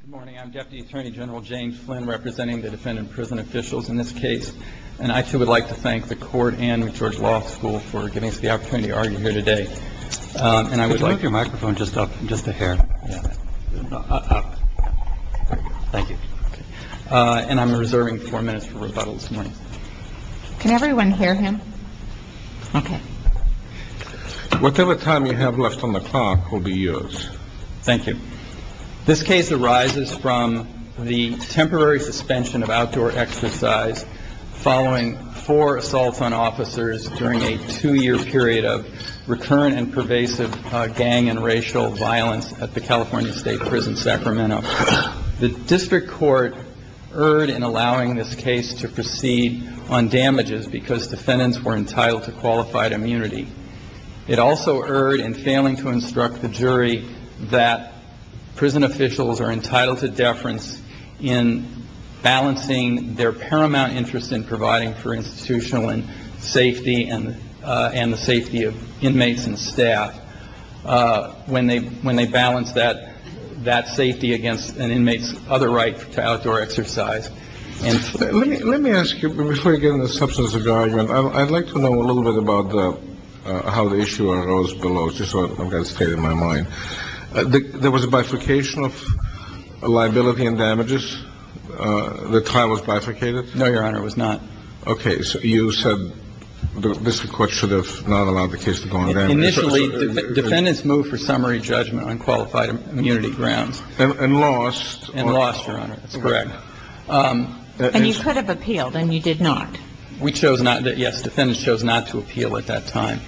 Good morning. I'm Deputy Attorney General Jane Flynn representing the defendant prison officials in this case. And I too would like to thank the court and George Law School for giving us the opportunity to argue here today. And I would like your microphone just up just a hair up. Thank you. And I'm reserving four minutes for rebuttal this morning. Can everyone hear him? OK. Whatever time you have left on the clock will be yours. Thank you. This case arises from the temporary suspension of outdoor exercise following four assaults on officers during a two year period of recurrent and pervasive gang and racial violence at the California State Prison, Sacramento. The district court erred in allowing this case to proceed on damages because defendants were entitled to qualified immunity. It also erred in failing to instruct the jury that prison officials are entitled to deference in balancing their paramount interest in providing for institutional and safety and and the safety of inmates and staff when they when they balance that, that safety against an inmate's other right to outdoor exercise. And let me let me ask you before you get in the substance of the argument. I'd like to know a little bit about how the issue goes below. So I've got to stay in my mind. There was a bifurcation of liability and damages. The time was bifurcated. No, Your Honor, it was not. OK. So you said the district court should have not allowed the case to go on. Initially, defendants moved for summary judgment on qualified immunity grounds and lost and lost. Your Honor, that's correct. And you could have appealed and you did not. We chose not. Yes. Defendants chose not to appeal at that time,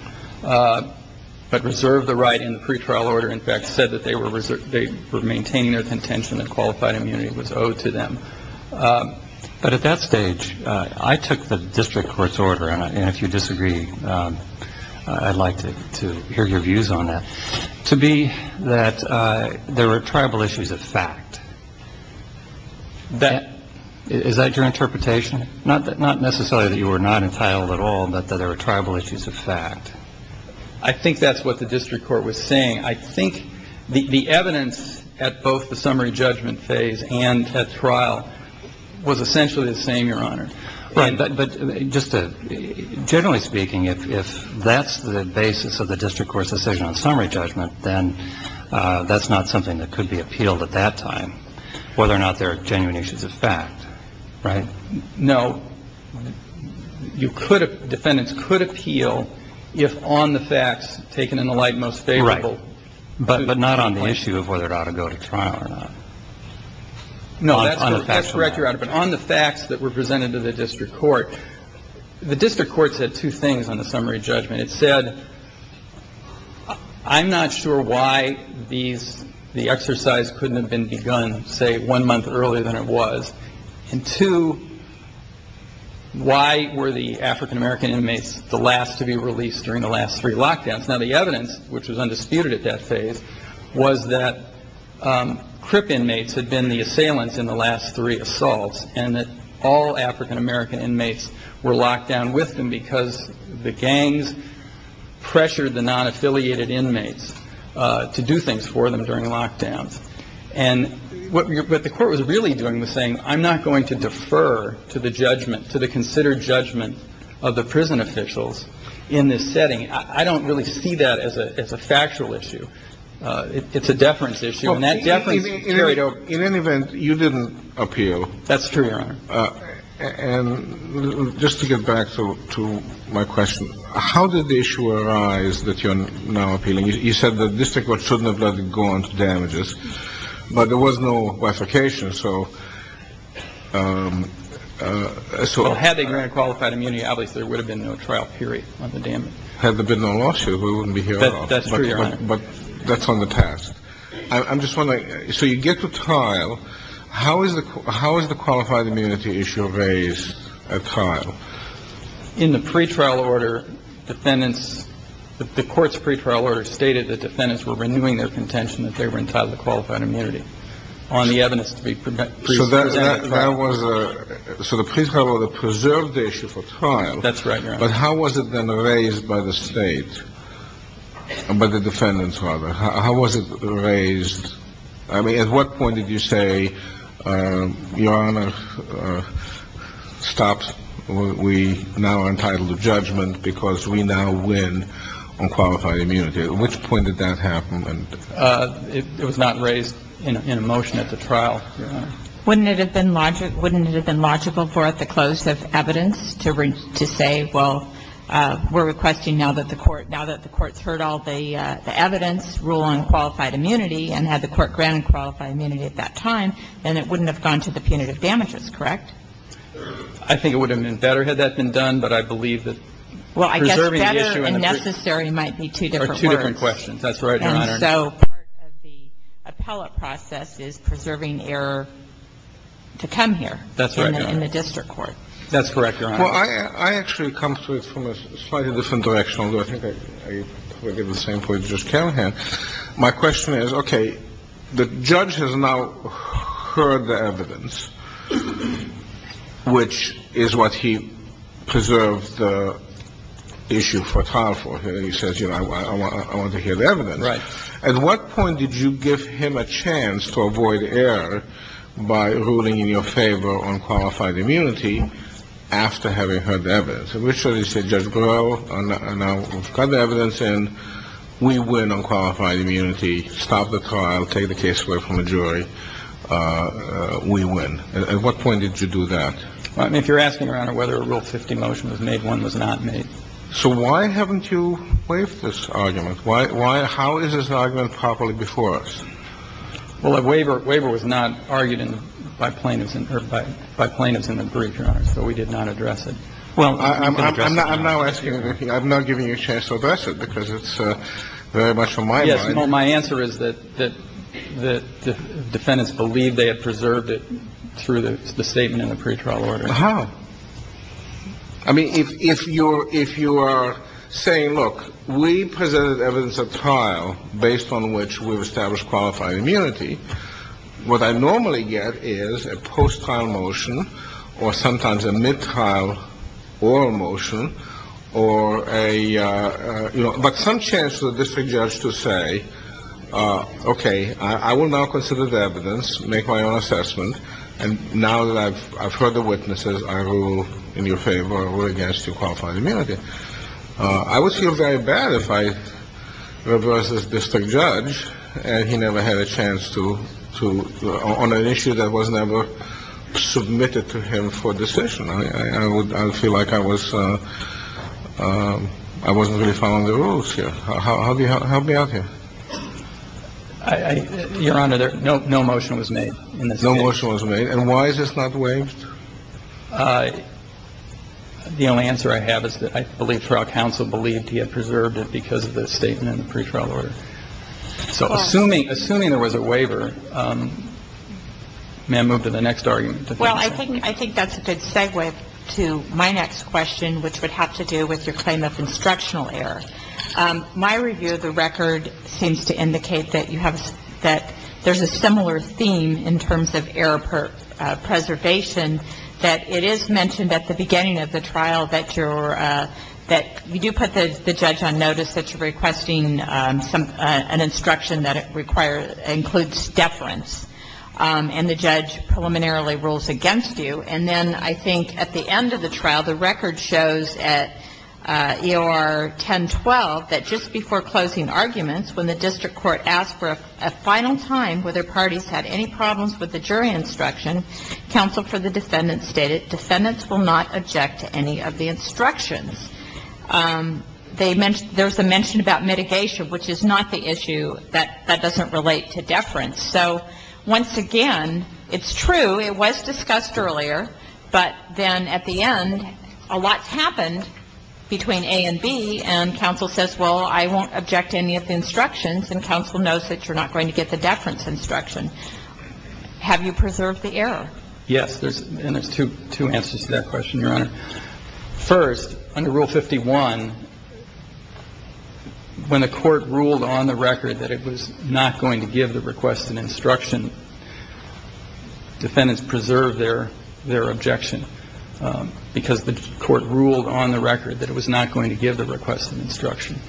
but reserve the right in the pretrial order. In fact, said that they were they were maintaining their contention that qualified immunity was owed to them. But at that stage, I took the district court's order. And if you disagree, I'd like to hear your views on that. To be that there were tribal issues of fact. That is that your interpretation? Not that not necessarily that you were not entitled at all, but that there were tribal issues of fact. I think that's what the district court was saying. I think the evidence at both the summary judgment phase and trial was essentially the same. Your Honor. But just generally speaking, if that's the basis of the district court's decision on summary judgment, then that's not something that could be appealed at that time, whether or not there are genuine issues of fact. Right. No. You could defendants could appeal if on the facts taken in the light most favorable. Right. But but not on the issue of whether it ought to go to trial or not. No, that's correct. You're right. But on the facts that were presented to the district court, the district court said two things on the summary judgment. It said, I'm not sure why these the exercise couldn't have been begun, say, one month earlier than it was. And two, why were the African-American inmates the last to be released during the last three lockdowns? Now, the evidence which was undisputed at that phase was that crip inmates had been the assailants in the last three assaults. And that all African-American inmates were locked down with them because the gangs pressured the non-affiliated inmates to do things for them during lockdowns. And what the court was really doing was saying, I'm not going to defer to the judgment, to the considered judgment of the prison officials in this setting. I don't really see that as a factual issue. It's a deference issue. And that definitely carried over. In any event, you didn't appeal. That's true. And just to get back to my question, how did the issue arise that you're now appealing? You said the district court shouldn't have let it go on to damages, but there was no bifurcation. So so had they granted qualified immunity, obviously there would have been no trial period on the damage. Had there been no lawsuit, we wouldn't be here. That's true. But that's on the task. I'm just wondering. So you get to trial. How is the how is the qualified immunity issue raised at trial? In the pre-trial order, defendants, the court's pre-trial order stated that defendants were renewing their contention that they were entitled to qualified immunity on the evidence to be presented. That was so the pre-trial order preserved the issue for trial. That's right. But how was it then raised by the state and by the defendants? I mean, at what point did you say, Your Honor, stop. We now are entitled to judgment because we now win on qualified immunity. At which point did that happen? And it was not raised in a motion at the trial. Wouldn't it have been larger? Wouldn't it have been logical for at the close of evidence to reach to say, well, we're requesting now that the court now that the court's heard all the evidence. Rule on qualified immunity and had the court granted qualified immunity at that time, then it wouldn't have gone to the punitive damages, correct? I think it would have been better had that been done. But I believe that. Well, I guess better and necessary might be two different questions. That's right, Your Honor. And so part of the appellate process is preserving error to come here. That's right, Your Honor. In the district court. That's correct, Your Honor. Well, I actually come to it from a slightly different direction. I think I get the same point as Judge Carahan. My question is, okay, the judge has now heard the evidence, which is what he preserved the issue for trial for. He says, you know, I want to hear the evidence. At what point did you give him a chance to avoid error by ruling in your favor on qualified immunity after having heard the evidence? In which case did you say, Judge Grell, we've got the evidence and we win on qualified immunity, stop the trial, take the case away from the jury, we win. At what point did you do that? If you're asking, Your Honor, whether a Rule 50 motion was made, one was not made. That's not a rule 50. That's not your previous argument. But why — how is this an argument properly before us? Well, a waiver — waiver was not argued in — by plaintiffs — by plaintiffs in the brief, Your Honor, so we did not address it. Well, you didn't address it. I'm not — I'm not asking anything. I've not given you a chance to address it because it's very much on my mind. Well, my answer is that the defendants believed they had preserved it through the statement in the pretrial order. How? I mean, if you're — if you are saying, look, we presented evidence at trial based on which we've established qualified immunity, what I normally get is a post-trial motion or sometimes a mid-trial oral motion or a — okay, I will now consider the evidence, make my own assessment. And now that I've heard the witnesses, I rule in your favor or against your qualified immunity. I would feel very bad if I reversed this district judge and he never had a chance to — on an issue that was never submitted to him for decision. I would — I would feel like I was — I wasn't really following the rules here. How do you help me out here? Your Honor, there — no motion was made. No motion was made. And why is this not waived? The only answer I have is that I believe trial counsel believed he had preserved it because of the statement in the pretrial order. So assuming — assuming there was a waiver, may I move to the next argument? Well, I think — I think that's a good segue to my next question, which would have to do with your claim of instructional error. My review of the record seems to indicate that you have — that there's a similar theme in terms of error preservation, that it is mentioned at the beginning of the trial that you're — that you do put the judge on notice that you're requesting some — an instruction that requires — includes deference. And the judge preliminarily rules against you. And then I think at the end of the trial, the record shows at EOR 1012 that just before closing arguments, when the district court asked for a final time whether parties had any problems with the jury instruction, counsel for the defendant stated defendants will not object to any of the instructions. They — there's a mention about mitigation, which is not the issue. That doesn't relate to deference. So once again, it's true. It was discussed earlier. But then at the end, a lot's happened between A and B. And counsel says, well, I won't object to any of the instructions. And counsel knows that you're not going to get the deference instruction. Have you preserved the error? Yes. And there's two answers to that question, Your Honor. First, under Rule 51, when the court ruled on the record that it was not going to give the request an instruction, defendants preserved their — their objection because the court ruled on the record that it was not going to give the request an instruction.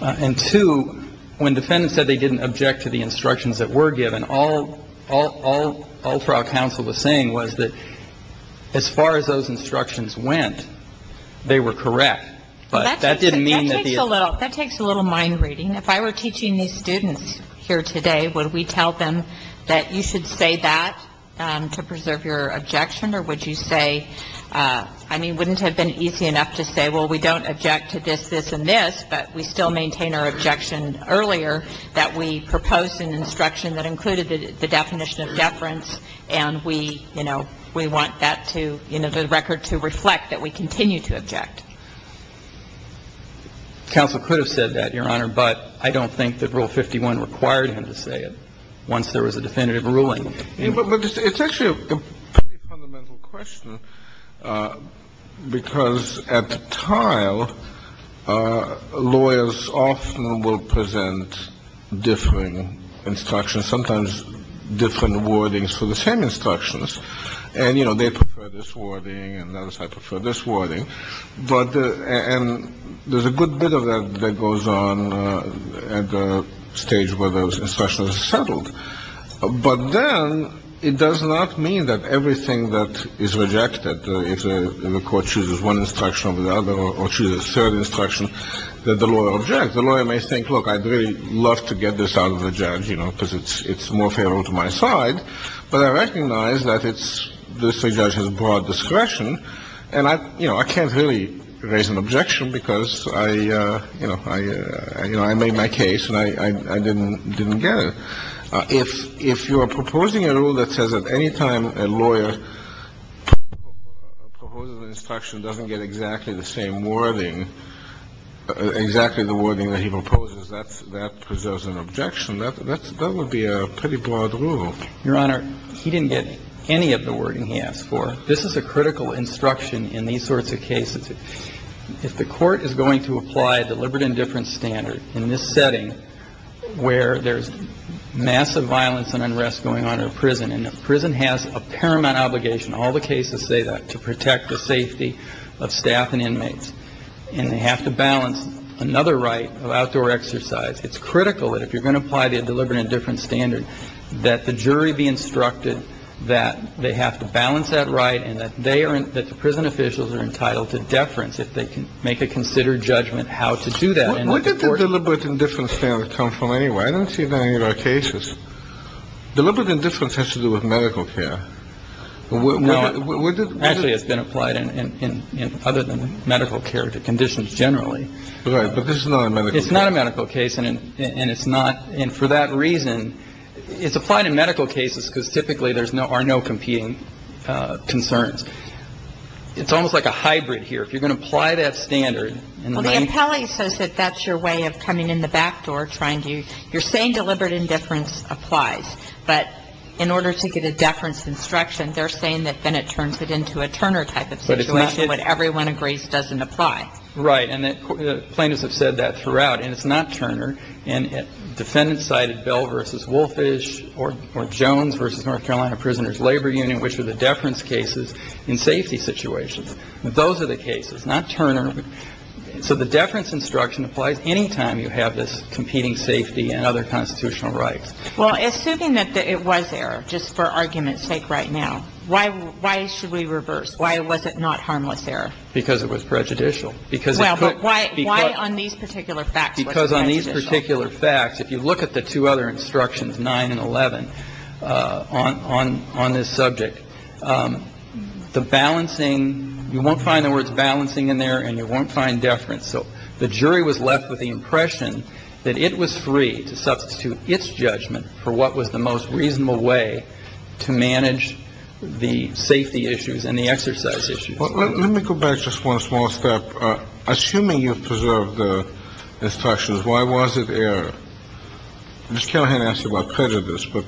And two, when defendants said they didn't object to the instructions that were given, all — all — all trial counsel was saying was that as far as those instructions went, they were correct. But that didn't mean that the — That takes a little — that takes a little mind reading. If I were teaching these students here today, would we tell them that you should say that to preserve your objection, or would you say — I mean, wouldn't it have been easy enough to say, well, we don't object to this, this, and this, but we still maintain our objection earlier that we proposed an instruction that included the definition of deference, and we, you know, we want that to — you know, the record to reflect that we continue to object? Counsel could have said that, Your Honor, but I don't think that Rule 51 required him to say it once there was a definitive ruling. It's actually a pretty fundamental question, because at the trial, lawyers often will present differing instructions, sometimes different wordings for the same instructions. And, you know, they prefer this wording, and others prefer this wording. But — and there's a good bit of that that goes on at the stage where those instructions are settled. But then it does not mean that everything that is rejected, if the court chooses one instruction over the other or chooses a third instruction, that the lawyer objects. The lawyer may think, look, I'd really love to get this out of the judge, you know, because it's more favorable to my side. But I recognize that it's — this rejection has broad discretion. And I — you know, I can't really raise an objection, because I — you know, I made my case, and I didn't get it. But if you are proposing a rule that says at any time a lawyer proposes an instruction, doesn't get exactly the same wording, exactly the wording that he proposes, that preserves an objection. That would be a pretty broad rule. Your Honor, he didn't get any of the wording he asked for. This is a critical instruction in these sorts of cases. If the court is going to apply deliberate indifference standard in this setting where there's massive violence and unrest going on in a prison, and a prison has a paramount obligation, all the cases say that, to protect the safety of staff and inmates, and they have to balance another right of outdoor exercise, it's critical that if you're going to apply the deliberate indifference standard that the jury be instructed that they have to balance that right and that they are — that the prison officials are entitled to deference if they can make a considered judgment how to do that. Why did the deliberate indifference standard come from anyway? I don't see it in any of our cases. Deliberate indifference has to do with medical care. No. Actually, it's been applied in other than medical care to conditions generally. Right. But this is not a medical case. It's not a medical case. And it's not. And for that reason, it's applied in medical cases because typically there are no competing concerns. It's almost like a hybrid here. If you're going to apply that standard — Well, the appellee says that that's your way of coming in the back door, trying to — you're saying deliberate indifference applies. But in order to get a deference instruction, they're saying that then it turns it into a Turner type of situation, when everyone agrees it doesn't apply. Right. And plaintiffs have said that throughout. And it's not Turner. And defendants cited Bell v. Wolfish or Jones v. North Carolina Prisoners Labor Union, which are the deference cases in safety situations. Those are the cases, not Turner. So the deference instruction applies any time you have this competing safety and other constitutional rights. Well, assuming that it was there, just for argument's sake right now, why should we reverse? Why was it not harmless there? Because it was prejudicial. Well, but why on these particular facts was it prejudicial? Because on these particular facts, if you look at the two other instructions, 9 and 11, on this subject, the balancing — you won't find the words balancing in there and you won't find deference. So the jury was left with the impression that it was free to substitute its judgment for what was the most reasonable way to manage the safety issues and the exercise issues. Well, let me go back just one small step. Assuming you've preserved the instructions, why was it error? Ms. Callahan asked about prejudice. But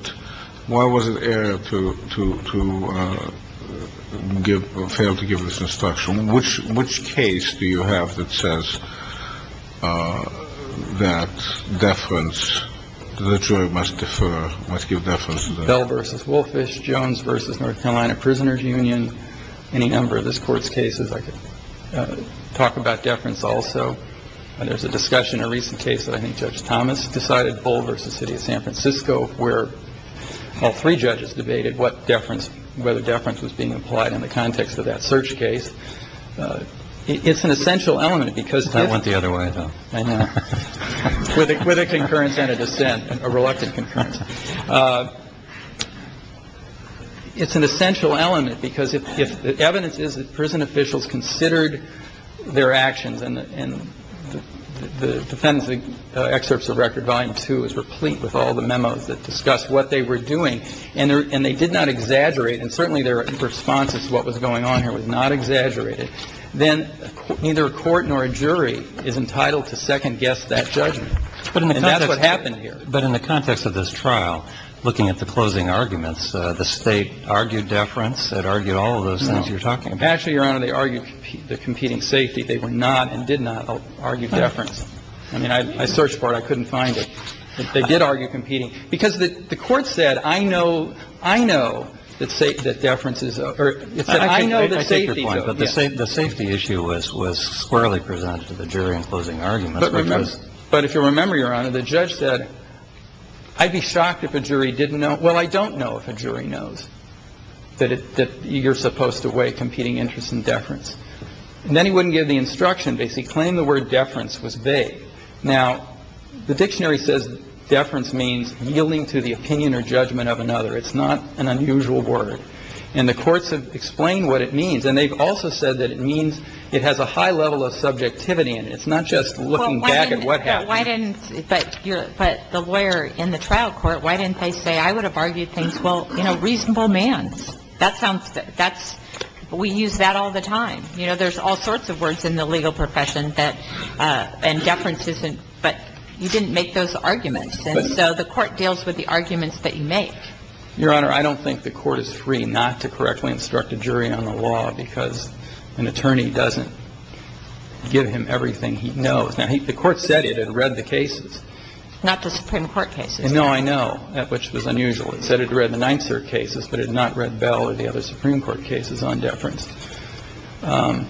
why was it error to fail to give this instruction? Which case do you have that says that deference, the jury must defer, must give deference? Bell versus Wolfish Jones versus North Carolina Prisoners Union. Any number of this court's cases I could talk about deference also. And there's a discussion, a recent case that I think Judge Thomas decided. Boulders, the city of San Francisco, where all three judges debated what deference, whether deference was being applied in the context of that search case. It's an essential element because it went the other way. With a with a concurrence and a dissent, a reluctant concurrence. It's an essential element because if the evidence is that prison officials considered their actions and the defendants, the excerpts of record volume two is replete with all the memos that discuss what they were doing. And they did not exaggerate. And certainly their responses to what was going on here was not exaggerated. Then neither a court nor a jury is entitled to second guess that judgment. And that's what happened here. But in the context of this trial, looking at the closing arguments, the state argued deference. It argued all of those things you're talking about. Actually, Your Honor, they argued the competing safety. They were not and did not argue deference. I mean, I searched for it. I couldn't find it. They did argue competing because the court said, I know, I know that say that deference is. So I know the safety. But the safety issue was was squarely presented to the jury in closing arguments. But if you remember, Your Honor, the judge said, I'd be shocked if a jury didn't know. Well, I don't know if a jury knows that you're supposed to weigh competing interest in deference. And then he wouldn't give the instruction basically claim the word deference was vague. Now, the dictionary says deference means yielding to the opinion or judgment of another. It's not an unusual word. And the courts have explained what it means. And they've also said that it means it has a high level of subjectivity. And it's not just looking back at what happened. But the lawyer in the trial court, why didn't they say I would have argued things? Well, you know, reasonable man. That sounds that's we use that all the time. You know, there's all sorts of words in the legal profession that and deference isn't. But you didn't make those arguments. And so the court deals with the arguments that you make. Your Honor, I don't think the court is free not to correctly instruct a jury on the law because an attorney doesn't give him everything he knows. Now, the court said it had read the cases. Not the Supreme Court cases. No, I know, which was unusual. It said it read the Ninth Circuit cases, but it had not read Bell or the other Supreme Court cases on deference. And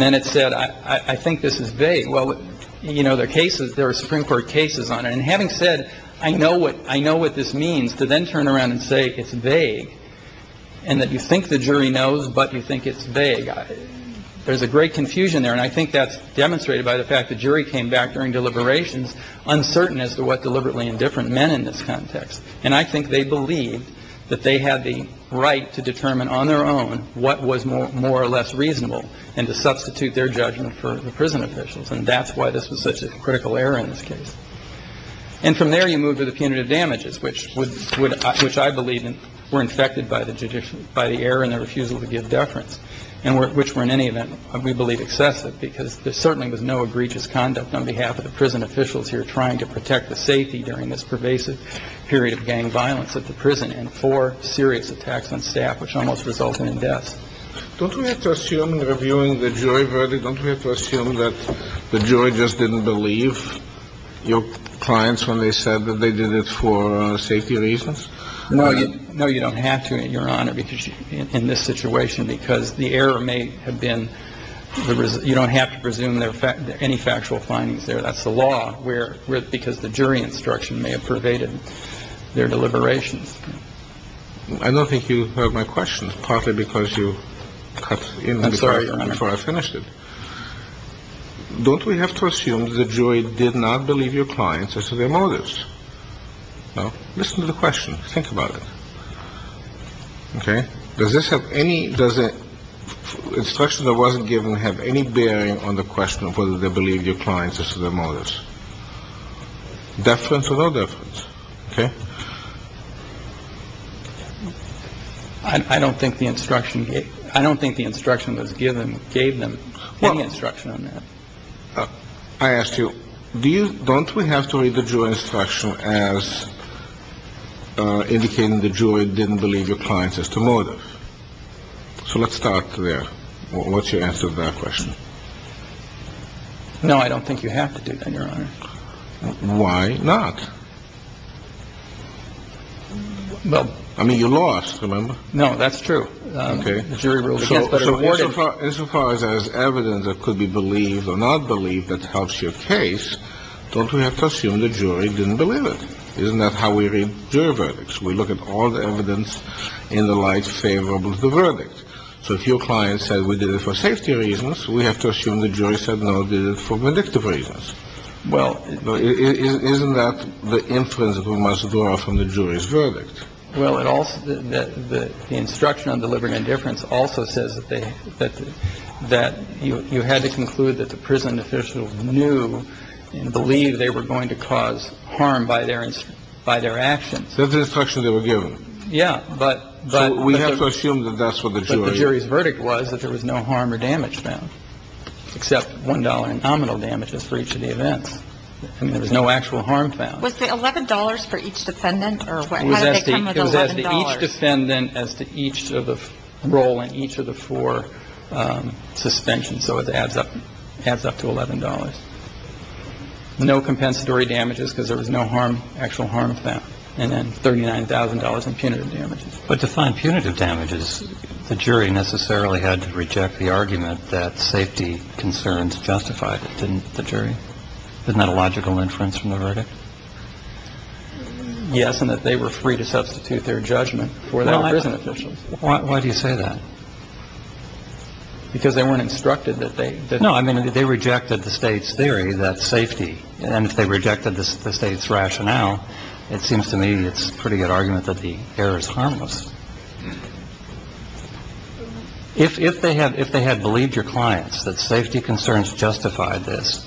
then it said, I think this is vague. Well, you know, their cases, their Supreme Court cases on it. And having said, I know what I know what this means to then turn around and say it's vague and that you think the jury knows, but you think it's vague. There's a great confusion there. And I think that's demonstrated by the fact the jury came back during deliberations uncertain as to what deliberately indifferent men in this context. And I think they believed that they had the right to determine on their own what was more or less reasonable and to substitute their judgment for the prison officials. And that's why this was such a critical error in this case. And from there, you move to the punitive damages, which would which I believe were infected by the judicial by the error and the refusal to give deference. And which were in any event, we believe, excessive because there certainly was no egregious conduct on behalf of the prison officials here trying to protect the safety during this pervasive period of time. We don't have to assume that they were pervasive, which is a good thing. But they were pervasive, particularly as a result of the two strikes, which resulted in two serious attacks of gang violence at the prison and four serious attacks on staff, which almost resulted in death. Don't we have to assume reviewing the jury verdict? Don't we have to assume that the jury just didn't believe your clients when they said that they did it for safety reasons? No, you know, you don't have to. I mean, you're on it because in this situation, because the error may have been the result. You don't have to presume there are any factual findings there. That's the law where because the jury instruction may have pervaded their deliberations. I don't think you heard my question, partly because you cut in before I finished it. Don't we have to assume the jury did not believe your clients as to their motives? No. Listen to the question. Think about it. OK. Does this have any. Does it. Instruction that wasn't given have any bearing on the question of whether they believe your clients as to their motives. Deference or no deference. OK. I don't think the instruction. I don't think the instruction was given. Gave them any instruction on that. I asked you, do you. Don't we have to read the jury instruction as indicating the jury didn't believe your clients as to motive. So let's start there. What's your answer to that question? No, I don't think you have to do that, Your Honor. Why not? Well, I mean, you lost. Remember? No, that's true. OK. So as far as evidence that could be believed or not believed that helps your case, don't we have to assume the jury didn't believe it? Isn't that how we read jury verdicts? We look at all the evidence in the light favorable to the verdict. So if your client said we did it for safety reasons, we have to assume the jury said no, did it for predictive reasons. Well, isn't that the inference that we must draw from the jury's verdict? Well, it also that the instruction on delivering indifference also says that that that you had to conclude that the prison officials knew and believe they were going to cause harm by their by their actions. That's the instruction they were given. Yeah. But we have to assume that that's what the jury's verdict was, that there was no harm or damage found except one dollar in nominal damages for each of the events. I mean, there was no actual harm found. Was the eleven dollars for each defendant or. It was actually each defendant as to each of the role in each of the four suspensions. So it adds up adds up to eleven dollars. No compensatory damages because there was no harm, actual harm found. And then thirty nine thousand dollars in punitive damages. But to find punitive damages, the jury necessarily had to reject the argument that safety concerns justified. And the jury didn't have a logical inference from the verdict. Yes. And that they were free to substitute their judgment for their prison officials. Why do you say that? Because they weren't instructed that they know. I mean, they rejected the state's theory that safety and if they rejected the state's rationale, it seems to me it's pretty good argument that the error is harmless. If they had if they had believed your clients that safety concerns justified this,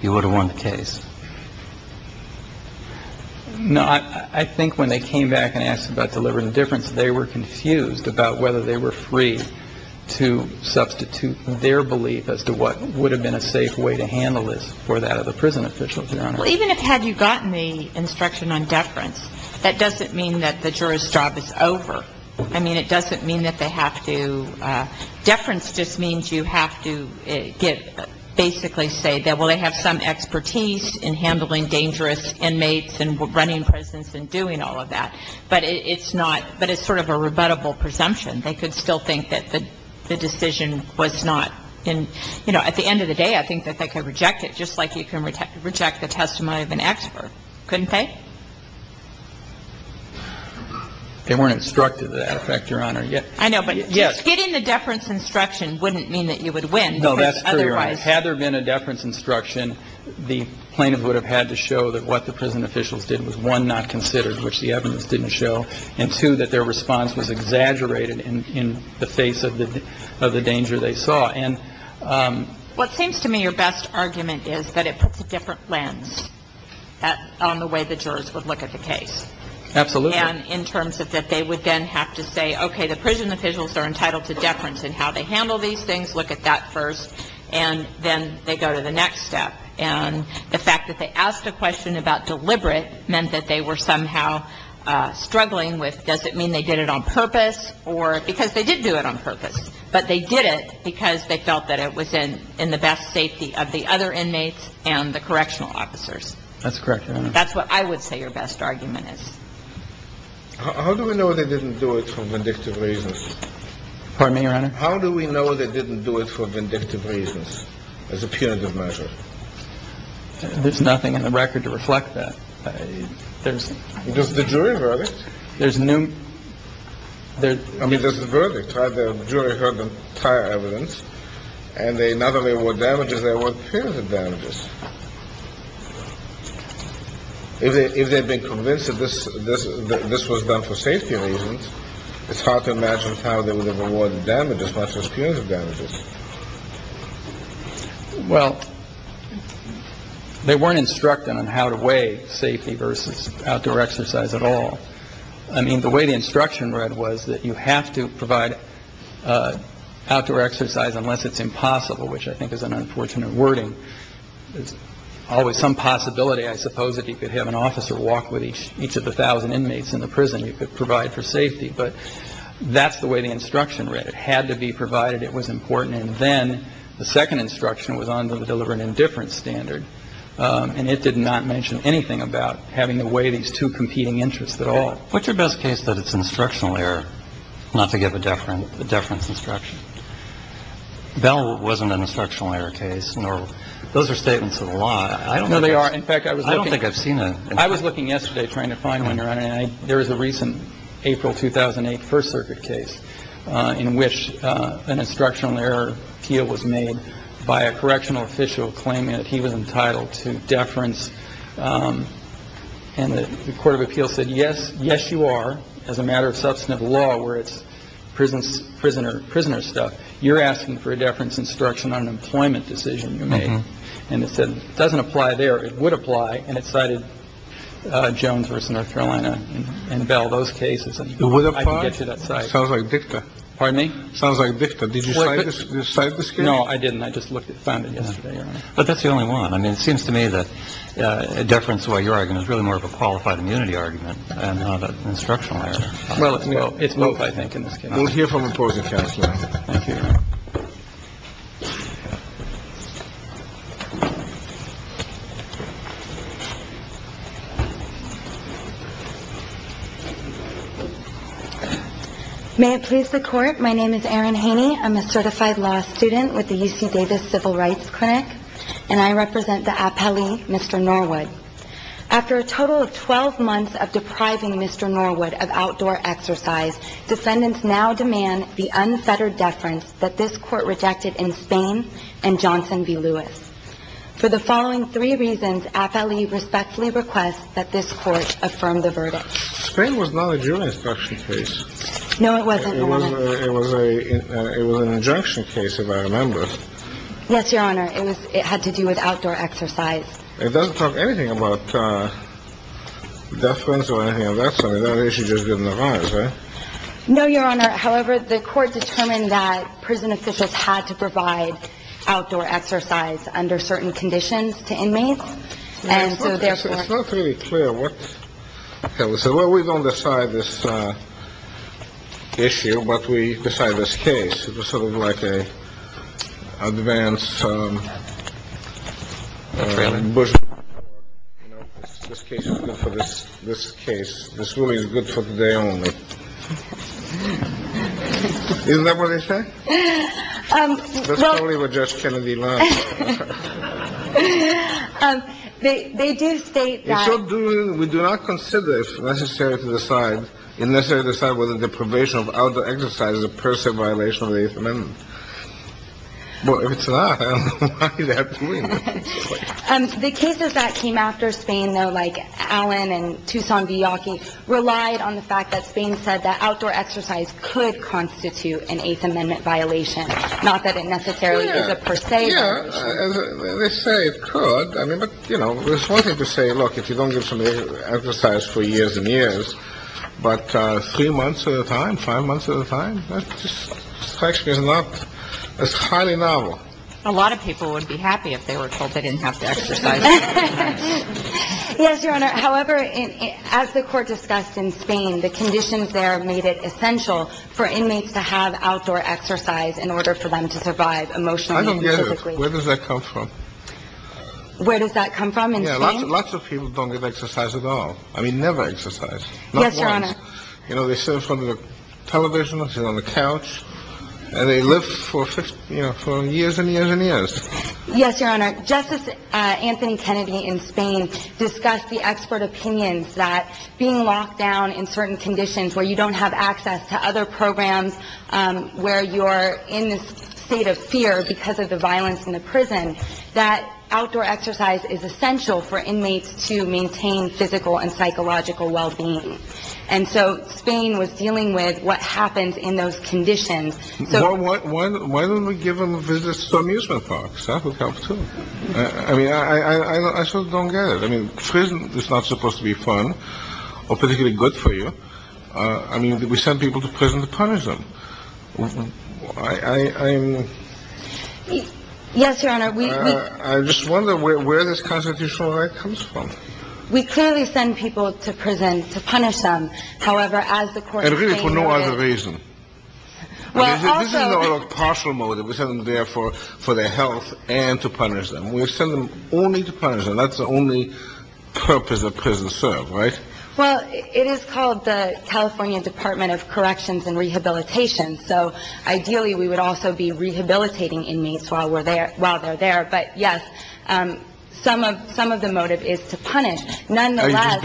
you would have won the case. No, I think when they came back and asked about delivering the difference, they were confused about whether they were free to substitute their belief as to what would have been a safe way to handle this for that of a prison official. Even if had you gotten the instruction on deference, that doesn't mean that the jury's job is over. I mean, it doesn't mean that they have to. Deference just means you have to get basically say that, well, they have some expertise in handling dangerous inmates and running prisons and doing all of that. But it's not. But it's sort of a rebuttable presumption. They could still think that the decision was not in. You know, at the end of the day, I think that they could reject it just like you can reject the testimony of an expert, couldn't they? They weren't instructed that effect, Your Honor. I know. But yes, getting the deference instruction wouldn't mean that you would win. No, that's true. Right. Had there been a deference instruction, the plaintiff would have had to show that what the prison officials did was one not considered, which the evidence didn't show, and two, that their response was exaggerated in the face of the of the danger they saw. And what seems to me your best argument is that it puts a different lens on the way the jurors would look at the case. Absolutely. And in terms of that they would then have to say, okay, the prison officials are entitled to deference in how they handle these things. Look at that first. And then they go to the next step. And the fact that they asked a question about deliberate meant that they were somehow struggling with, does it mean they did it on purpose or because they did do it on purpose, but they did it because they felt that it was in the best safety of the other inmates and the correctional officers. That's correct, Your Honor. That's what I would say your best argument is. How do we know they didn't do it for vindictive reasons? Pardon me, Your Honor. How do we know they didn't do it for vindictive reasons as a punitive measure? There's nothing in the record to reflect that. There's the jury verdict. There's no. I mean, there's a verdict. The jury heard the entire evidence. And they not only award damages, they award punitive damages. If they've been convinced of this, this, this was done for safety reasons, it's hard to imagine how they would have awarded them as much as punitive damages. Well, they weren't instructed on how to weigh safety versus outdoor exercise at all. I mean, the way the instruction read was that you have to provide outdoor exercise unless it's impossible, which I think is an unfortunate wording. There's always some possibility, I suppose, that you could have an officer walk with each each of the thousand inmates in the prison. You could provide for safety. But that's the way the instruction read. It had to be provided. It was important. And then the second instruction was on the deliberate indifference standard. And it did not mention anything about having to weigh these two competing interests at all. What's your best case that it's instructional error not to give a different difference instruction? Bell wasn't an instructional error case, nor those are statements of the law. I know they are. In fact, I was I don't think I've seen it. I was looking yesterday trying to find one. You're right. There is a recent April 2008 First Circuit case in which an instructional error appeal was made by a correctional official claiming that he was entitled to deference. And the court of appeals said, yes, yes, you are. As a matter of substantive law where it's prisons, prisoner, prisoner stuff. You're asking for a deference instruction on an employment decision. And it said it doesn't apply there. It would apply. And it cited Jones versus North Carolina and Bell. Those cases would apply to that. Sounds like Victor. Pardon me. Sounds like Victor. Did you say this? No, I didn't. I just looked at found it yesterday. But that's the only one. I mean, it seems to me that a deference where you're arguing is really more of a qualified immunity argument. I'm not an instructional error. Well, you know, it's both. I think in this case, we'll hear from a positive. Thank you. May it please the court. My name is Erin Haney. I'm a certified law student with the UC Davis Civil Rights Clinic, and I represent the appellee, Mr. Norwood. After a total of 12 months of depriving Mr. Norwood of outdoor exercise, defendants now demand the unfettered deference that this court rejected in Spain and Johnson v. Lewis for the following three reasons. Appellee respectfully requests that this court affirm the verdict. Spain was not a jurisdiction case. No, it wasn't. It was a it was an injunction case, if I remember. Yes, Your Honor. It was it had to do with outdoor exercise. It doesn't talk anything about defense or anything of that sort. That issue just didn't arise. No, Your Honor. However, the court determined that prison officials had to provide outdoor exercise under certain conditions to inmates. And so therefore, it's not really clear what we said. What we decide this case was sort of like a advance. This case is good for this. This case is really good for the day only. Isn't that what they say? That's probably what Judge Kennedy. They do state that we do not consider it necessary to decide. Unless they decide whether the probation of the exercise is a personal violation. And then it's not. And the cases that came after Spain, though, like Allen and Tucson, the Yankee relied on the fact that Spain said that outdoor exercise could constitute an Eighth Amendment violation. Not that it necessarily is a per se. They say it could. I mean, you know, it's one thing to say, look, if you don't get some exercise for years and years. But three months at a time, five months at a time. This question is not as highly novel. A lot of people would be happy if they were told they didn't have to exercise. Yes, Your Honor. However, as the court discussed in Spain, the conditions there made it essential for inmates to have outdoor exercise in order for them to survive emotionally. Where does that come from? Where does that come from? Lots of people don't get exercise at all. I mean, never exercise. Yes, Your Honor. You know, they sit in front of the television, sit on the couch and they live for years and years and years. Yes, Your Honor. Justice Anthony Kennedy in Spain discussed the expert opinions that being locked down in certain conditions where you don't have access to other programs, where you are in this state of fear because of the violence in the prison, that outdoor exercise is essential for inmates to maintain physical and psychological well-being. And so Spain was dealing with what happens in those conditions. Why don't we give them visits to amusement parks? That would help, too. I mean, I sort of don't get it. I mean, prison is not supposed to be fun or particularly good for you. I mean, we send people to prison to punish them. I am. Yes, Your Honor. I just wonder where this constitutional right comes from. We clearly send people to prison to punish them. However, as the court. For no other reason. Well, this is a partial motive. We send them there for for their health and to punish them. We send them only to punish them. That's the only purpose of prison serve. Right. Well, it is called the California Department of Corrections and Rehabilitation. So ideally, we would also be rehabilitating inmates while we're there, while they're there. But, yes, some of some of the motive is to punish. Nonetheless,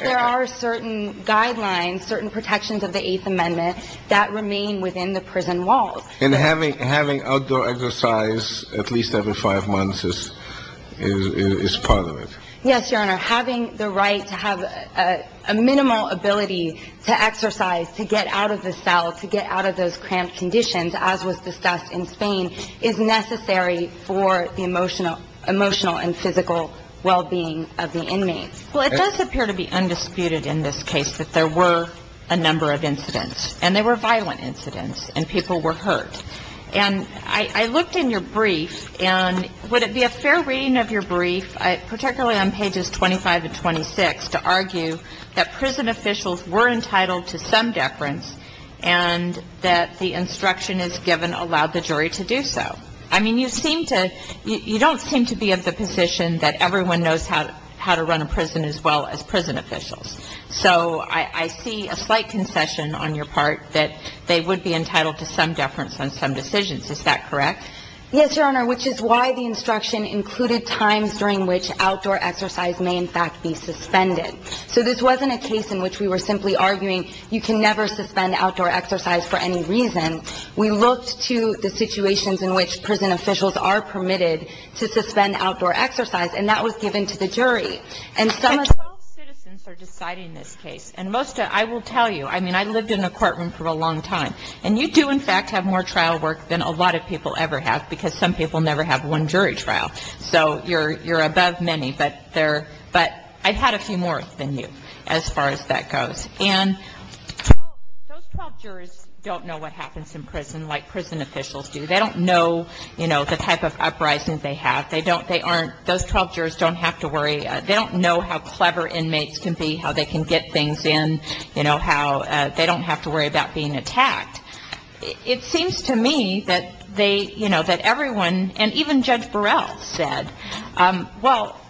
there are certain guidelines, certain protections of the Eighth Amendment that remain within the prison walls. And having having outdoor exercise at least every five months is part of it. Yes, Your Honor. Having the right to have a minimal ability to exercise, to get out of the cell, to get out of those cramped conditions, as was discussed in Spain, is necessary for the emotional emotional and physical well-being of the inmates. Well, it does appear to be undisputed in this case that there were a number of incidents and they were violent incidents and people were hurt. And I looked in your brief and would it be a fair reading of your brief, particularly on pages 25 and 26, to argue that prison officials were entitled to some deference and that the instruction is given allowed the jury to do so. I mean, you seem to you don't seem to be of the position that everyone knows how to run a prison as well as prison officials. So I see a slight concession on your part that they would be entitled to some deference on some decisions. Is that correct? Yes, Your Honor, which is why the instruction included times during which outdoor exercise may in fact be suspended. So this wasn't a case in which we were simply arguing you can never suspend outdoor exercise for any reason. We looked to the situations in which prison officials are permitted to suspend outdoor exercise and that was given to the jury. And some of the citizens are deciding this case. And most I will tell you, I mean, I lived in a courtroom for a long time. And you do in fact have more trial work than a lot of people ever have because some people never have one jury trial. So you're above many. But I've had a few more than you as far as that goes. And those 12 jurors don't know what happens in prison like prison officials do. They don't know, you know, the type of uprisings they have. They don't, they aren't, those 12 jurors don't have to worry. They don't know how clever inmates can be, how they can get things in, you know, how they don't have to worry about being attacked. It seems to me that they, you know, that everyone, and even Judge Burrell said, well,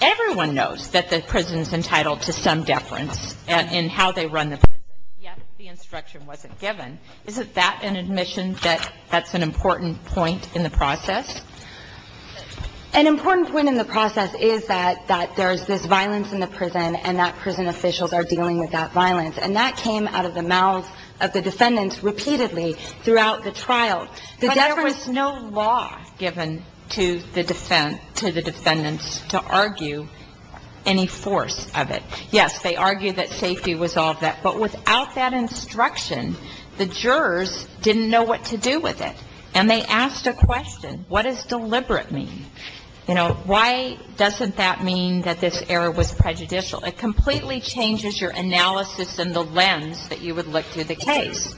everyone knows that the prison's entitled to some deference in how they run the prison, yet the instruction wasn't given. Isn't that an admission that that's an important point in the process? An important point in the process is that there's this violence in the prison and that prison officials are dealing with that violence. And that came out of the mouths of the defendants repeatedly throughout the trial. But there was no law given to the defendants to argue any force of it. Yes, they argued that safety was all of that. But without that instruction, the jurors didn't know what to do with it. And they asked a question, what does deliberate mean? You know, why doesn't that mean that this error was prejudicial? It completely changes your analysis and the lens that you would look to the case.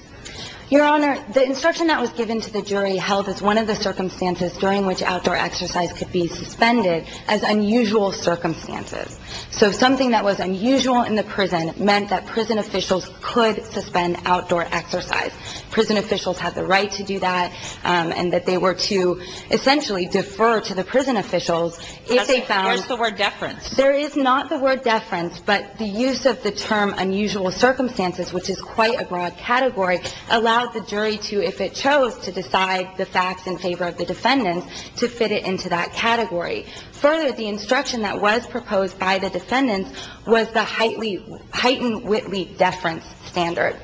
Your Honor, the instruction that was given to the jury held as one of the circumstances during which outdoor exercise could be suspended as unusual circumstances. So something that was unusual in the prison meant that prison officials could suspend outdoor exercise. Prison officials had the right to do that and that they were to essentially defer to the prison officials if they found Where's the word deference? There is not the word deference, but the use of the term unusual circumstances, which is quite a broad category, allowed the jury to, if it chose to decide the facts in favor of the defendants, to fit it into that category. Further, the instruction that was proposed by the defendants was the heightened Whitley deference standard,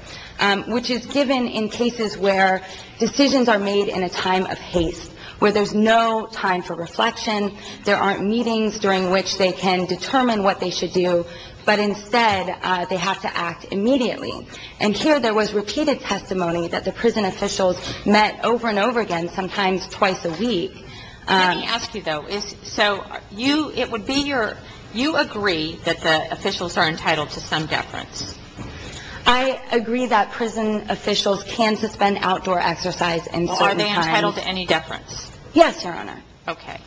which is given in cases where decisions are made in a time of haste, where there's no time for reflection, there aren't meetings during which they can determine what they should do, but instead they have to act immediately. And here there was repeated testimony that the prison officials met over and over again, sometimes twice a week. Let me ask you, though. So you, it would be your, you agree that the officials are entitled to some deference. I agree that prison officials can suspend outdoor exercise in certain times. Are they entitled to any deference? Yes, Your Honor. Okay.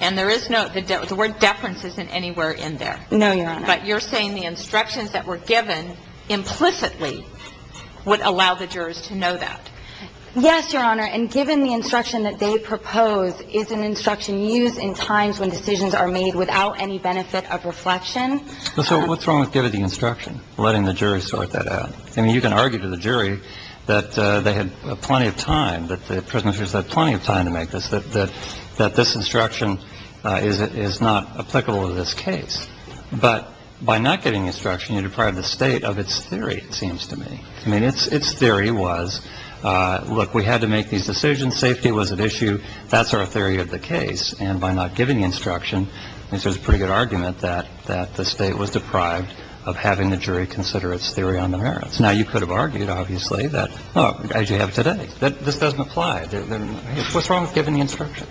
And there is no, the word deference isn't anywhere in there. No, Your Honor. But you're saying the instructions that were given implicitly would allow the jurors to know that. Yes, Your Honor. And given the instruction that they propose is an instruction used in times when decisions are made without any benefit of reflection. So what's wrong with giving the instruction, letting the jury sort that out? I mean, you can argue to the jury that they had plenty of time, that the prisoners had plenty of time to make this, that this instruction is not applicable to this case. But by not getting instruction, you deprive the state of its theory, it seems to me. I mean, its theory was, look, we had to make these decisions. Safety was at issue. That's our theory of the case. And by not giving the instruction, I mean, there's a pretty good argument that the state was deprived of having the jury consider its theory on the merits. Now, you could have argued, obviously, that, oh, as you have today, that this doesn't apply. What's wrong with giving the instruction?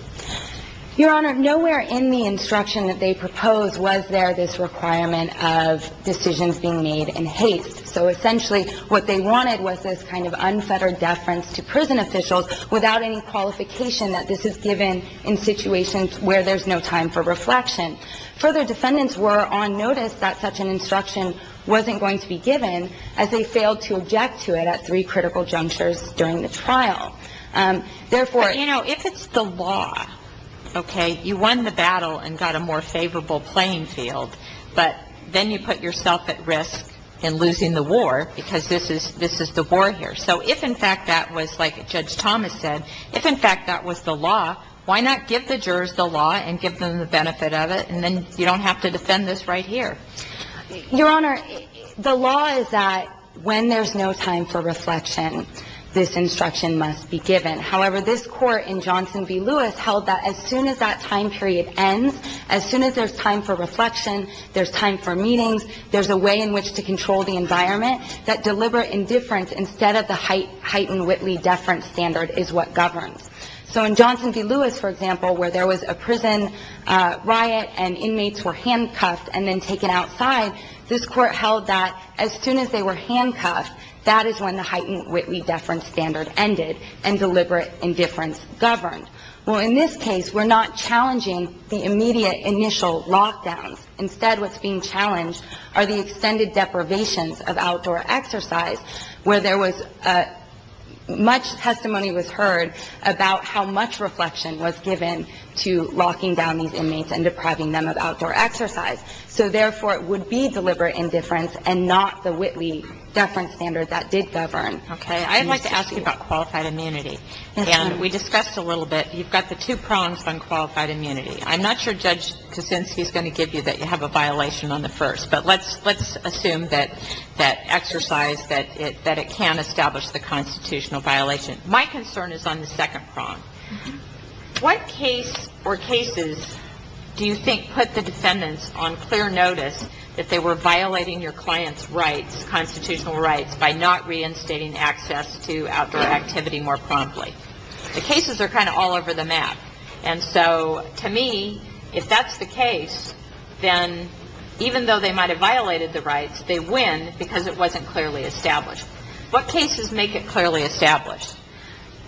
Your Honor, nowhere in the instruction that they propose was there this requirement of decisions being made in haste. So essentially what they wanted was this kind of unfettered deference to prison officials without any qualification that this is given in situations where there's no time for reflection. Further, defendants were on notice that such an instruction wasn't going to be given as they failed to object to it at three critical junctures during the trial. Therefore ‑‑ But, you know, if it's the law, okay, you won the battle and got a more favorable playing field, but then you put yourself at risk in losing the war because this is the war here. So if, in fact, that was like Judge Thomas said, if, in fact, that was the law, why not give the jurors the law and give them the benefit of it, and then you don't have to defend this right here? Your Honor, the law is that when there's no time for reflection, this instruction must be given. However, this Court in Johnson v. Lewis held that as soon as that time period ends, as soon as there's time for reflection, there's time for meetings, there's a way in which to control the environment, that deliberate indifference instead of the heightened Whitley deference standard is what governs. So in Johnson v. Lewis, for example, where there was a prison riot and inmates were handcuffed and then taken outside, this Court held that as soon as they were handcuffed, that is when the heightened Whitley deference standard ended and deliberate indifference governed. Well, in this case, we're not challenging the immediate initial lockdowns. Instead, what's being challenged are the extended deprivations of outdoor exercise, where there was much testimony was heard about how much reflection was given to locking down these inmates and depriving them of outdoor exercise. So, therefore, it would be deliberate indifference and not the Whitley deference standard that did govern. Okay. I'd like to ask you about qualified immunity. Yes, ma'am. And we discussed a little bit. You've got the two prongs on qualified immunity. I'm not sure Judge Kosinski is going to give you that you have a violation on the first. But let's assume that exercise, that it can establish the constitutional violation. My concern is on the second prong. What case or cases do you think put the defendants on clear notice that they were violating your client's rights, constitutional rights, by not reinstating access to outdoor activity more promptly? The cases are kind of all over the map. And so, to me, if that's the case, then even though they might have violated the rights, they win because it wasn't clearly established. What cases make it clearly established?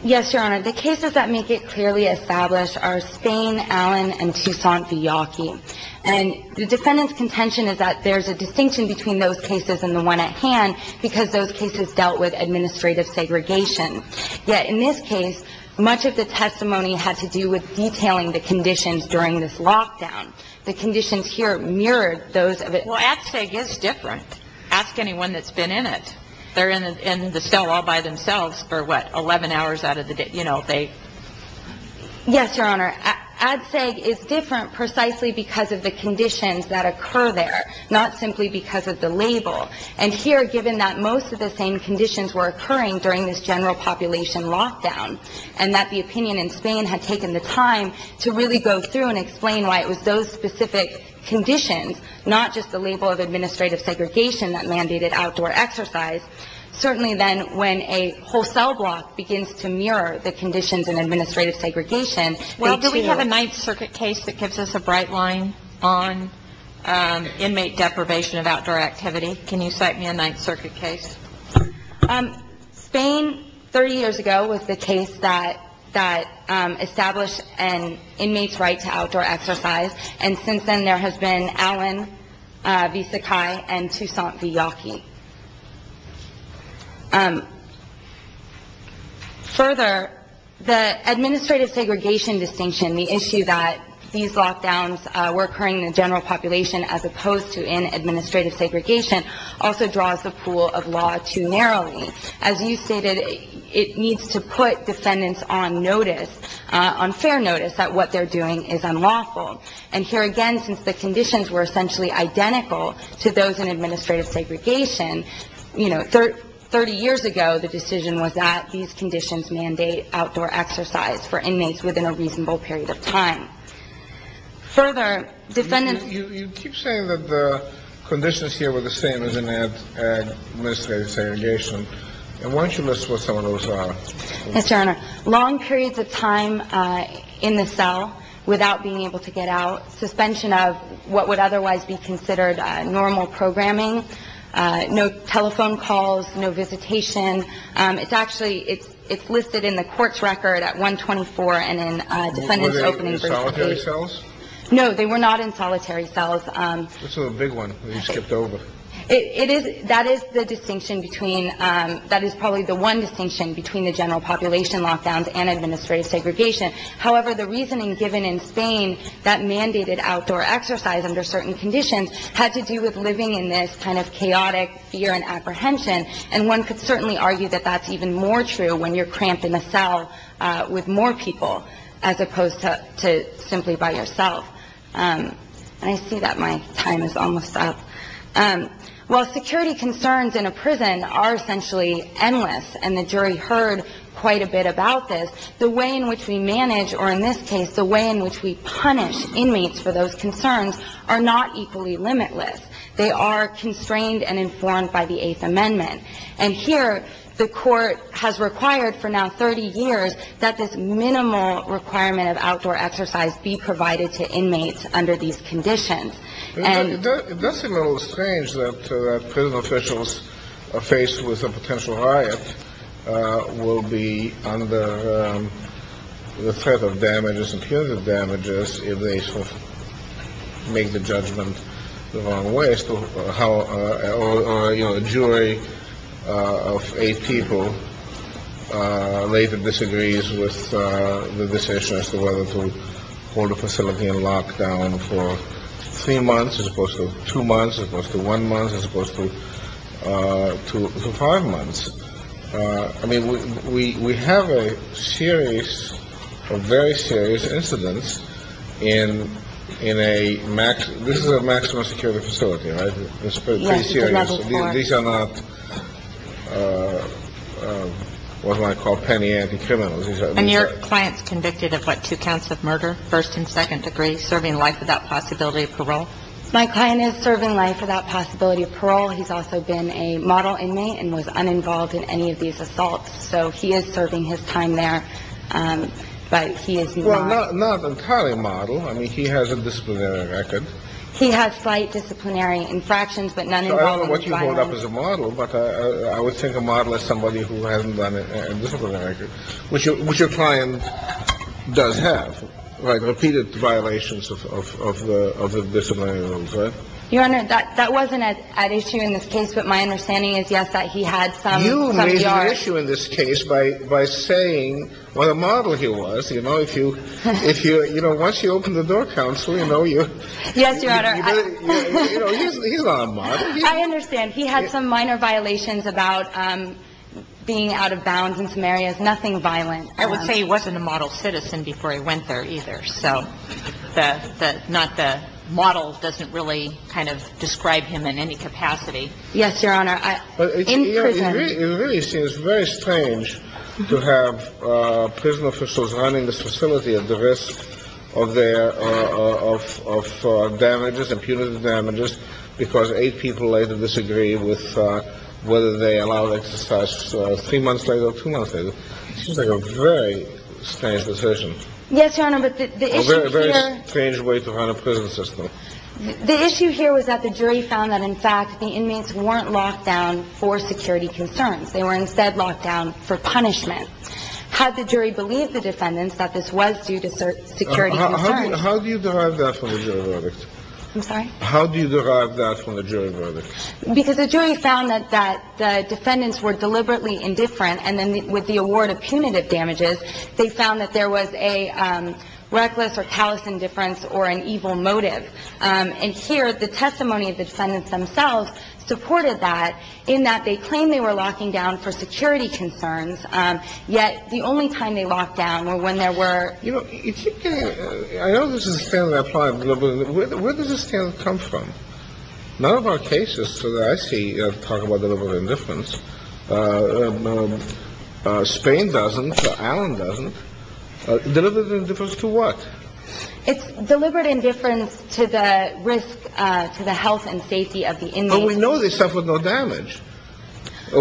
Yes, Your Honor. The cases that make it clearly established are Spain, Allen, and Tucson, the Yawkey. And the defendant's contention is that there's a distinction between those cases and the one at hand because those cases dealt with administrative segregation. Yet, in this case, much of the testimony had to do with detailing the conditions during this lockdown. The conditions here mirrored those of it. Well, ADCEG is different. Ask anyone that's been in it. They're in the cell all by themselves for, what, 11 hours out of the day. You know, they. Yes, Your Honor. ADCEG is different precisely because of the conditions that occur there, not simply because of the label. And here, given that most of the same conditions were occurring during this general population lockdown and that the opinion in Spain had taken the time to really go through and explain why it was those specific conditions, not just the label of administrative segregation that mandated outdoor exercise, certainly then when a wholesale block begins to mirror the conditions in administrative segregation. Well, do we have a Ninth Circuit case that gives us a bright line on inmate deprivation of outdoor activity? Can you cite me a Ninth Circuit case? Spain, 30 years ago, was the case that established an inmate's right to outdoor exercise. And since then, there has been Allen v. Sakai and Toussaint v. Yockey. Further, the administrative segregation distinction, the issue that these lockdowns were occurring in the general population as opposed to in administrative segregation, also draws the pool of law too narrowly. As you stated, it needs to put defendants on notice, on fair notice, that what they're doing is unlawful. And here again, since the conditions were essentially identical to those in administrative segregation, 30 years ago, the decision was that these conditions mandate outdoor exercise for inmates within a reasonable period of time. Further, defendants- You keep saying that the conditions here were the same as in administrative segregation. Why don't you list what some of those are? Mr. Honor, long periods of time in the cell without being able to get out, suspension of what would otherwise be considered normal programming, no telephone calls, no visitation. It's actually- it's listed in the court's record at 124 and in defendants- Were they in solitary cells? No, they were not in solitary cells. This is a big one that you skipped over. It is- that is the distinction between- that is probably the one distinction between the general population lockdowns and administrative segregation. However, the reasoning given in Spain that mandated outdoor exercise under certain conditions had to do with living in this kind of chaotic fear and apprehension. And one could certainly argue that that's even more true when you're cramped in a cell with more people as opposed to simply by yourself. I see that my time is almost up. While security concerns in a prison are essentially endless, and the jury heard quite a bit about this, the way in which we manage, or in this case, the way in which we punish inmates for those concerns are not equally limitless. They are constrained and informed by the Eighth Amendment. And here, the court has required for now 30 years that this minimal requirement of outdoor exercise be provided to inmates under these conditions. It does seem a little strange that prison officials are faced with a potential riot, will be under the threat of damages and punitive damages if they make the judgment the wrong way. You know, a jury of eight people later disagrees with the decision as to whether to hold a facility in lockdown for three months as opposed to two months, as opposed to one month as opposed to two to five months. I mean, we have a series of very serious incidents in in a max. This is a maximum security facility, right? It's pretty serious. These are not what I call penny anti-criminals. And your client's convicted of what, two counts of murder, first and second degree, serving life without possibility of parole. He's also been a model inmate and was uninvolved in any of these assaults. So he is serving his time there. But he is not entirely a model. I mean, he has a disciplinary record. He has slight disciplinary infractions, but none of what you hold up as a model. But I would take a model as somebody who hasn't done it, which your client does have repeated violations of the disciplinary rules. Your Honor, that wasn't an issue in this case. But my understanding is, yes, that he had some. You made an issue in this case by saying what a model he was. You know, if you if you you know, once you open the door, counsel, you know, you. Yes, Your Honor. I understand he had some minor violations about being out of bounds in some areas. Nothing violent. I would say he wasn't a model citizen before he went there either. So that's not the model doesn't really kind of describe him in any capacity. Yes, Your Honor. It really seems very strange to have prison officials running the facility at the risk of their of damages and punitive damages, because eight people later disagree with whether they allowed exercise. So three months later, two months later, it seems like a very strange decision. Yes, Your Honor. But the very, very strange way to run a prison system. The issue here was that the jury found that, in fact, the inmates weren't locked down for security concerns. They were instead locked down for punishment. Had the jury believed the defendants that this was due to security concerns? How do you derive that from the jury verdict? I'm sorry? How do you derive that from the jury verdict? Because the jury found that that the defendants were deliberately indifferent. And then with the award of punitive damages, they found that there was a reckless or callous indifference or an evil motive. And here the testimony of the defendants themselves supported that in that they claimed they were locking down for security concerns, yet the only time they locked down were when there were. You know, I know this is a standard applied. Where does this standard come from? None of our cases that I see talk about deliberate indifference. Spain doesn't. Ireland doesn't. Deliberate indifference to what? It's deliberate indifference to the risk to the health and safety of the inmates. But we know they suffered no damage.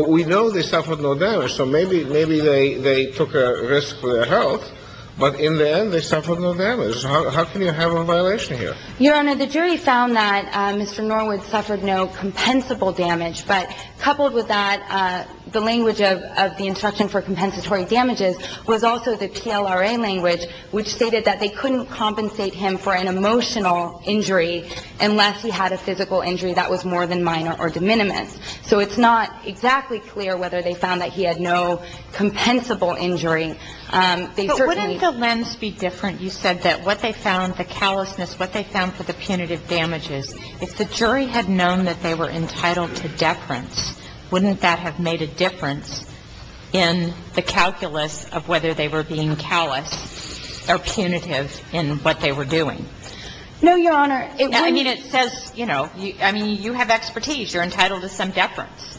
We know they suffered no damage. So maybe they took a risk for their health. But in the end, they suffered no damage. How can you have a violation here? Your Honor, the jury found that Mr. Norwood suffered no compensable damage. But coupled with that, the language of the instruction for compensatory damages was also the PLRA language, which stated that they couldn't compensate him for an emotional injury unless he had a physical injury that was more than minor or de minimis. So it's not exactly clear whether they found that he had no compensable injury. But wouldn't the lens be different? You said that what they found, the callousness, what they found for the punitive damages, if the jury had known that they were entitled to deference, wouldn't that have made a difference in the calculus of whether they were being callous or punitive in what they were doing? No, Your Honor. I mean, it says, you know, I mean, you have expertise. You're entitled to some deference.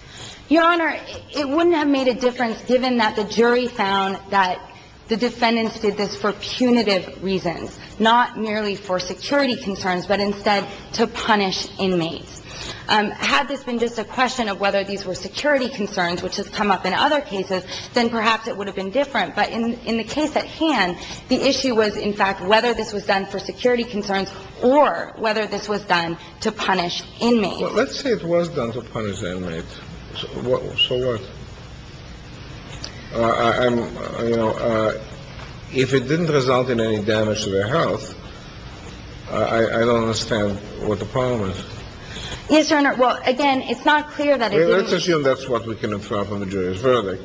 Your Honor, it wouldn't have made a difference given that the jury found that the defendants were being callous. So the question is, if the jury had known that the defendants were being callous, would it have suggested this for punitive reasons, not merely for security concerns, but instead to punish inmates? Had this been just a question of whether these were security concerns, which has come up in other cases, then perhaps it would have been different. But in the case at hand, the issue was, in fact, whether this was done for security concerns or whether this was done to punish inmates. Well, let's say it was done to punish inmates. So what? I'm, you know, if it didn't result in any damage to their health, I don't understand what the problem is. Yes, Your Honor. Well, again, it's not clear that it did. I assume that's what we can infer from the jury's verdict,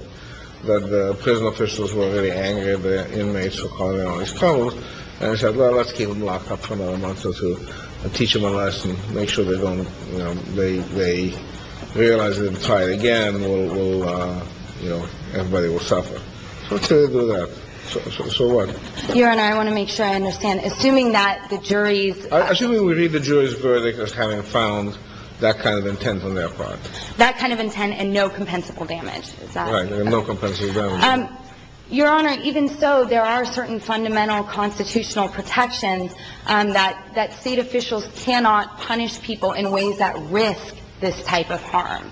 that the prison officials were really angry at the inmates for calling them on these problems. And they said, well, let's keep them locked up for another month or two and teach them a lesson, make sure they don't, you know, they realize it and try it again. We'll, you know, everybody will suffer. So let's say they do that. So what? Your Honor, I want to make sure I understand. Assuming that the jury's... Assuming we read the jury's verdict as having found that kind of intent on their part. That kind of intent and no compensable damage. Right, no compensable damage. Your Honor, even so, there are certain fundamental constitutional protections that state officials cannot punish people in ways that risk this type of harm.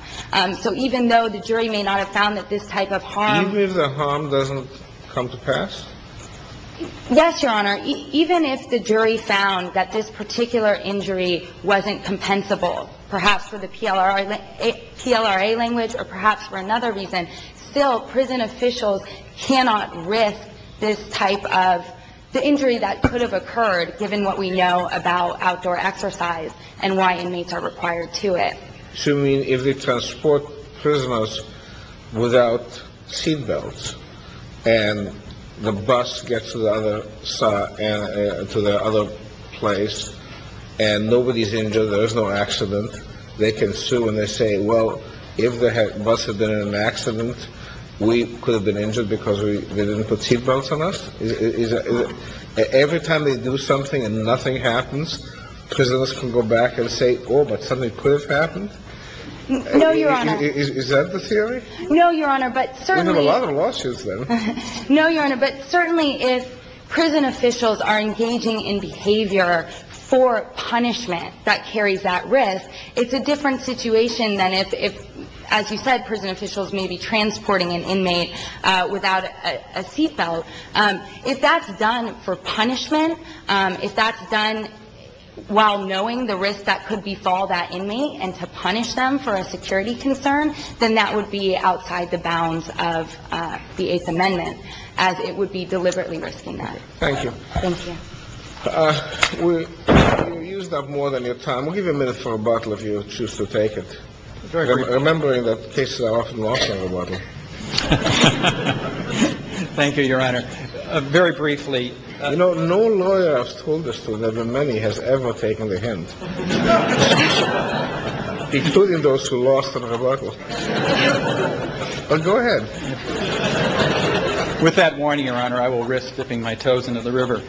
So even though the jury may not have found that this type of harm... Even if the harm doesn't come to pass? Yes, Your Honor. Even if the jury found that this particular injury wasn't compensable, perhaps for the PLRA language or perhaps for another reason, still prison officials cannot risk this type of... The injury that could have occurred, given what we know about outdoor exercise and why inmates are required to it. Assuming if they transport prisoners without seatbelts and the bus gets to the other side, to the other place, and nobody's injured, there is no accident. They can sue and they say, well, if the bus had been in an accident, we could have been injured because they didn't put seatbelts on us. Every time they do something and nothing happens, prisoners can go back and say, oh, but something could have happened? No, Your Honor. Is that the theory? No, Your Honor, but certainly... We have a lot of lawsuits, then. No, Your Honor, but certainly if prison officials are engaging in behavior for punishment that carries that risk, it's a different situation than if, as you said, prison officials may be transporting an inmate without a seatbelt. So if that's done for punishment, if that's done while knowing the risk that could befall that inmate and to punish them for a security concern, then that would be outside the bounds of the Eighth Amendment, as it would be deliberately risking that. Thank you. Thank you. We've used up more than your time. We'll give you a minute for a bottle if you choose to take it, remembering that cases are often lost on the bottle. Thank you, Your Honor. Very briefly... You know, no lawyer has told us that the many has ever taken the hint, including those who lost on the bottle. But go ahead. With that warning, Your Honor, I will risk slipping my toes into the river.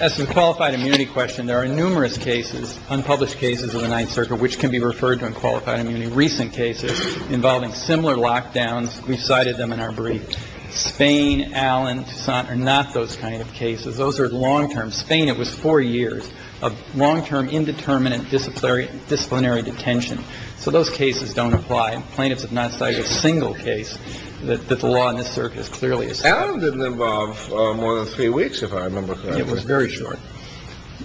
As to the qualified immunity question, there are numerous cases, unpublished cases of the Ninth Circuit, which can be referred to unqualified immunity. There are many recent cases involving similar lockdowns. We cited them in our brief. Spain, Allen, Tucson are not those kind of cases. Those are long-term. Spain, it was four years of long-term indeterminate disciplinary detention. So those cases don't apply. Plaintiffs have not cited a single case that the law in this circuit is clearly... Allen didn't involve more than three weeks, if I remember correctly. It was very short.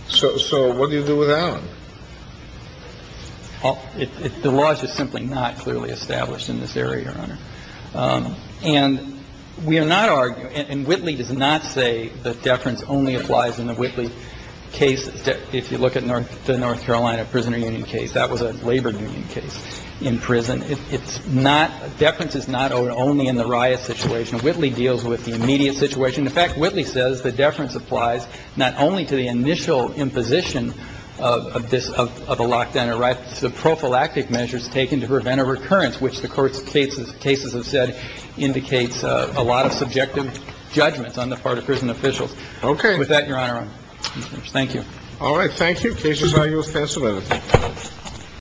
So what do you do with Allen? Well, the law is just simply not clearly established in this area, Your Honor. And we are not arguing... And Whitley does not say that deference only applies in the Whitley case. If you look at the North Carolina Prisoner Union case, that was a labor union case in prison. It's not... Deference is not only in the riot situation. Whitley deals with the immediate situation. In fact, Whitley says the deference applies not only to the initial imposition of this, of a lockdown, it's the prophylactic measures taken to prevent a recurrence, which the court's cases have said indicates a lot of subjective judgments on the part of prison officials. Okay. With that, Your Honor, thank you. All right. Thank you. The case is now yours. Pass it on.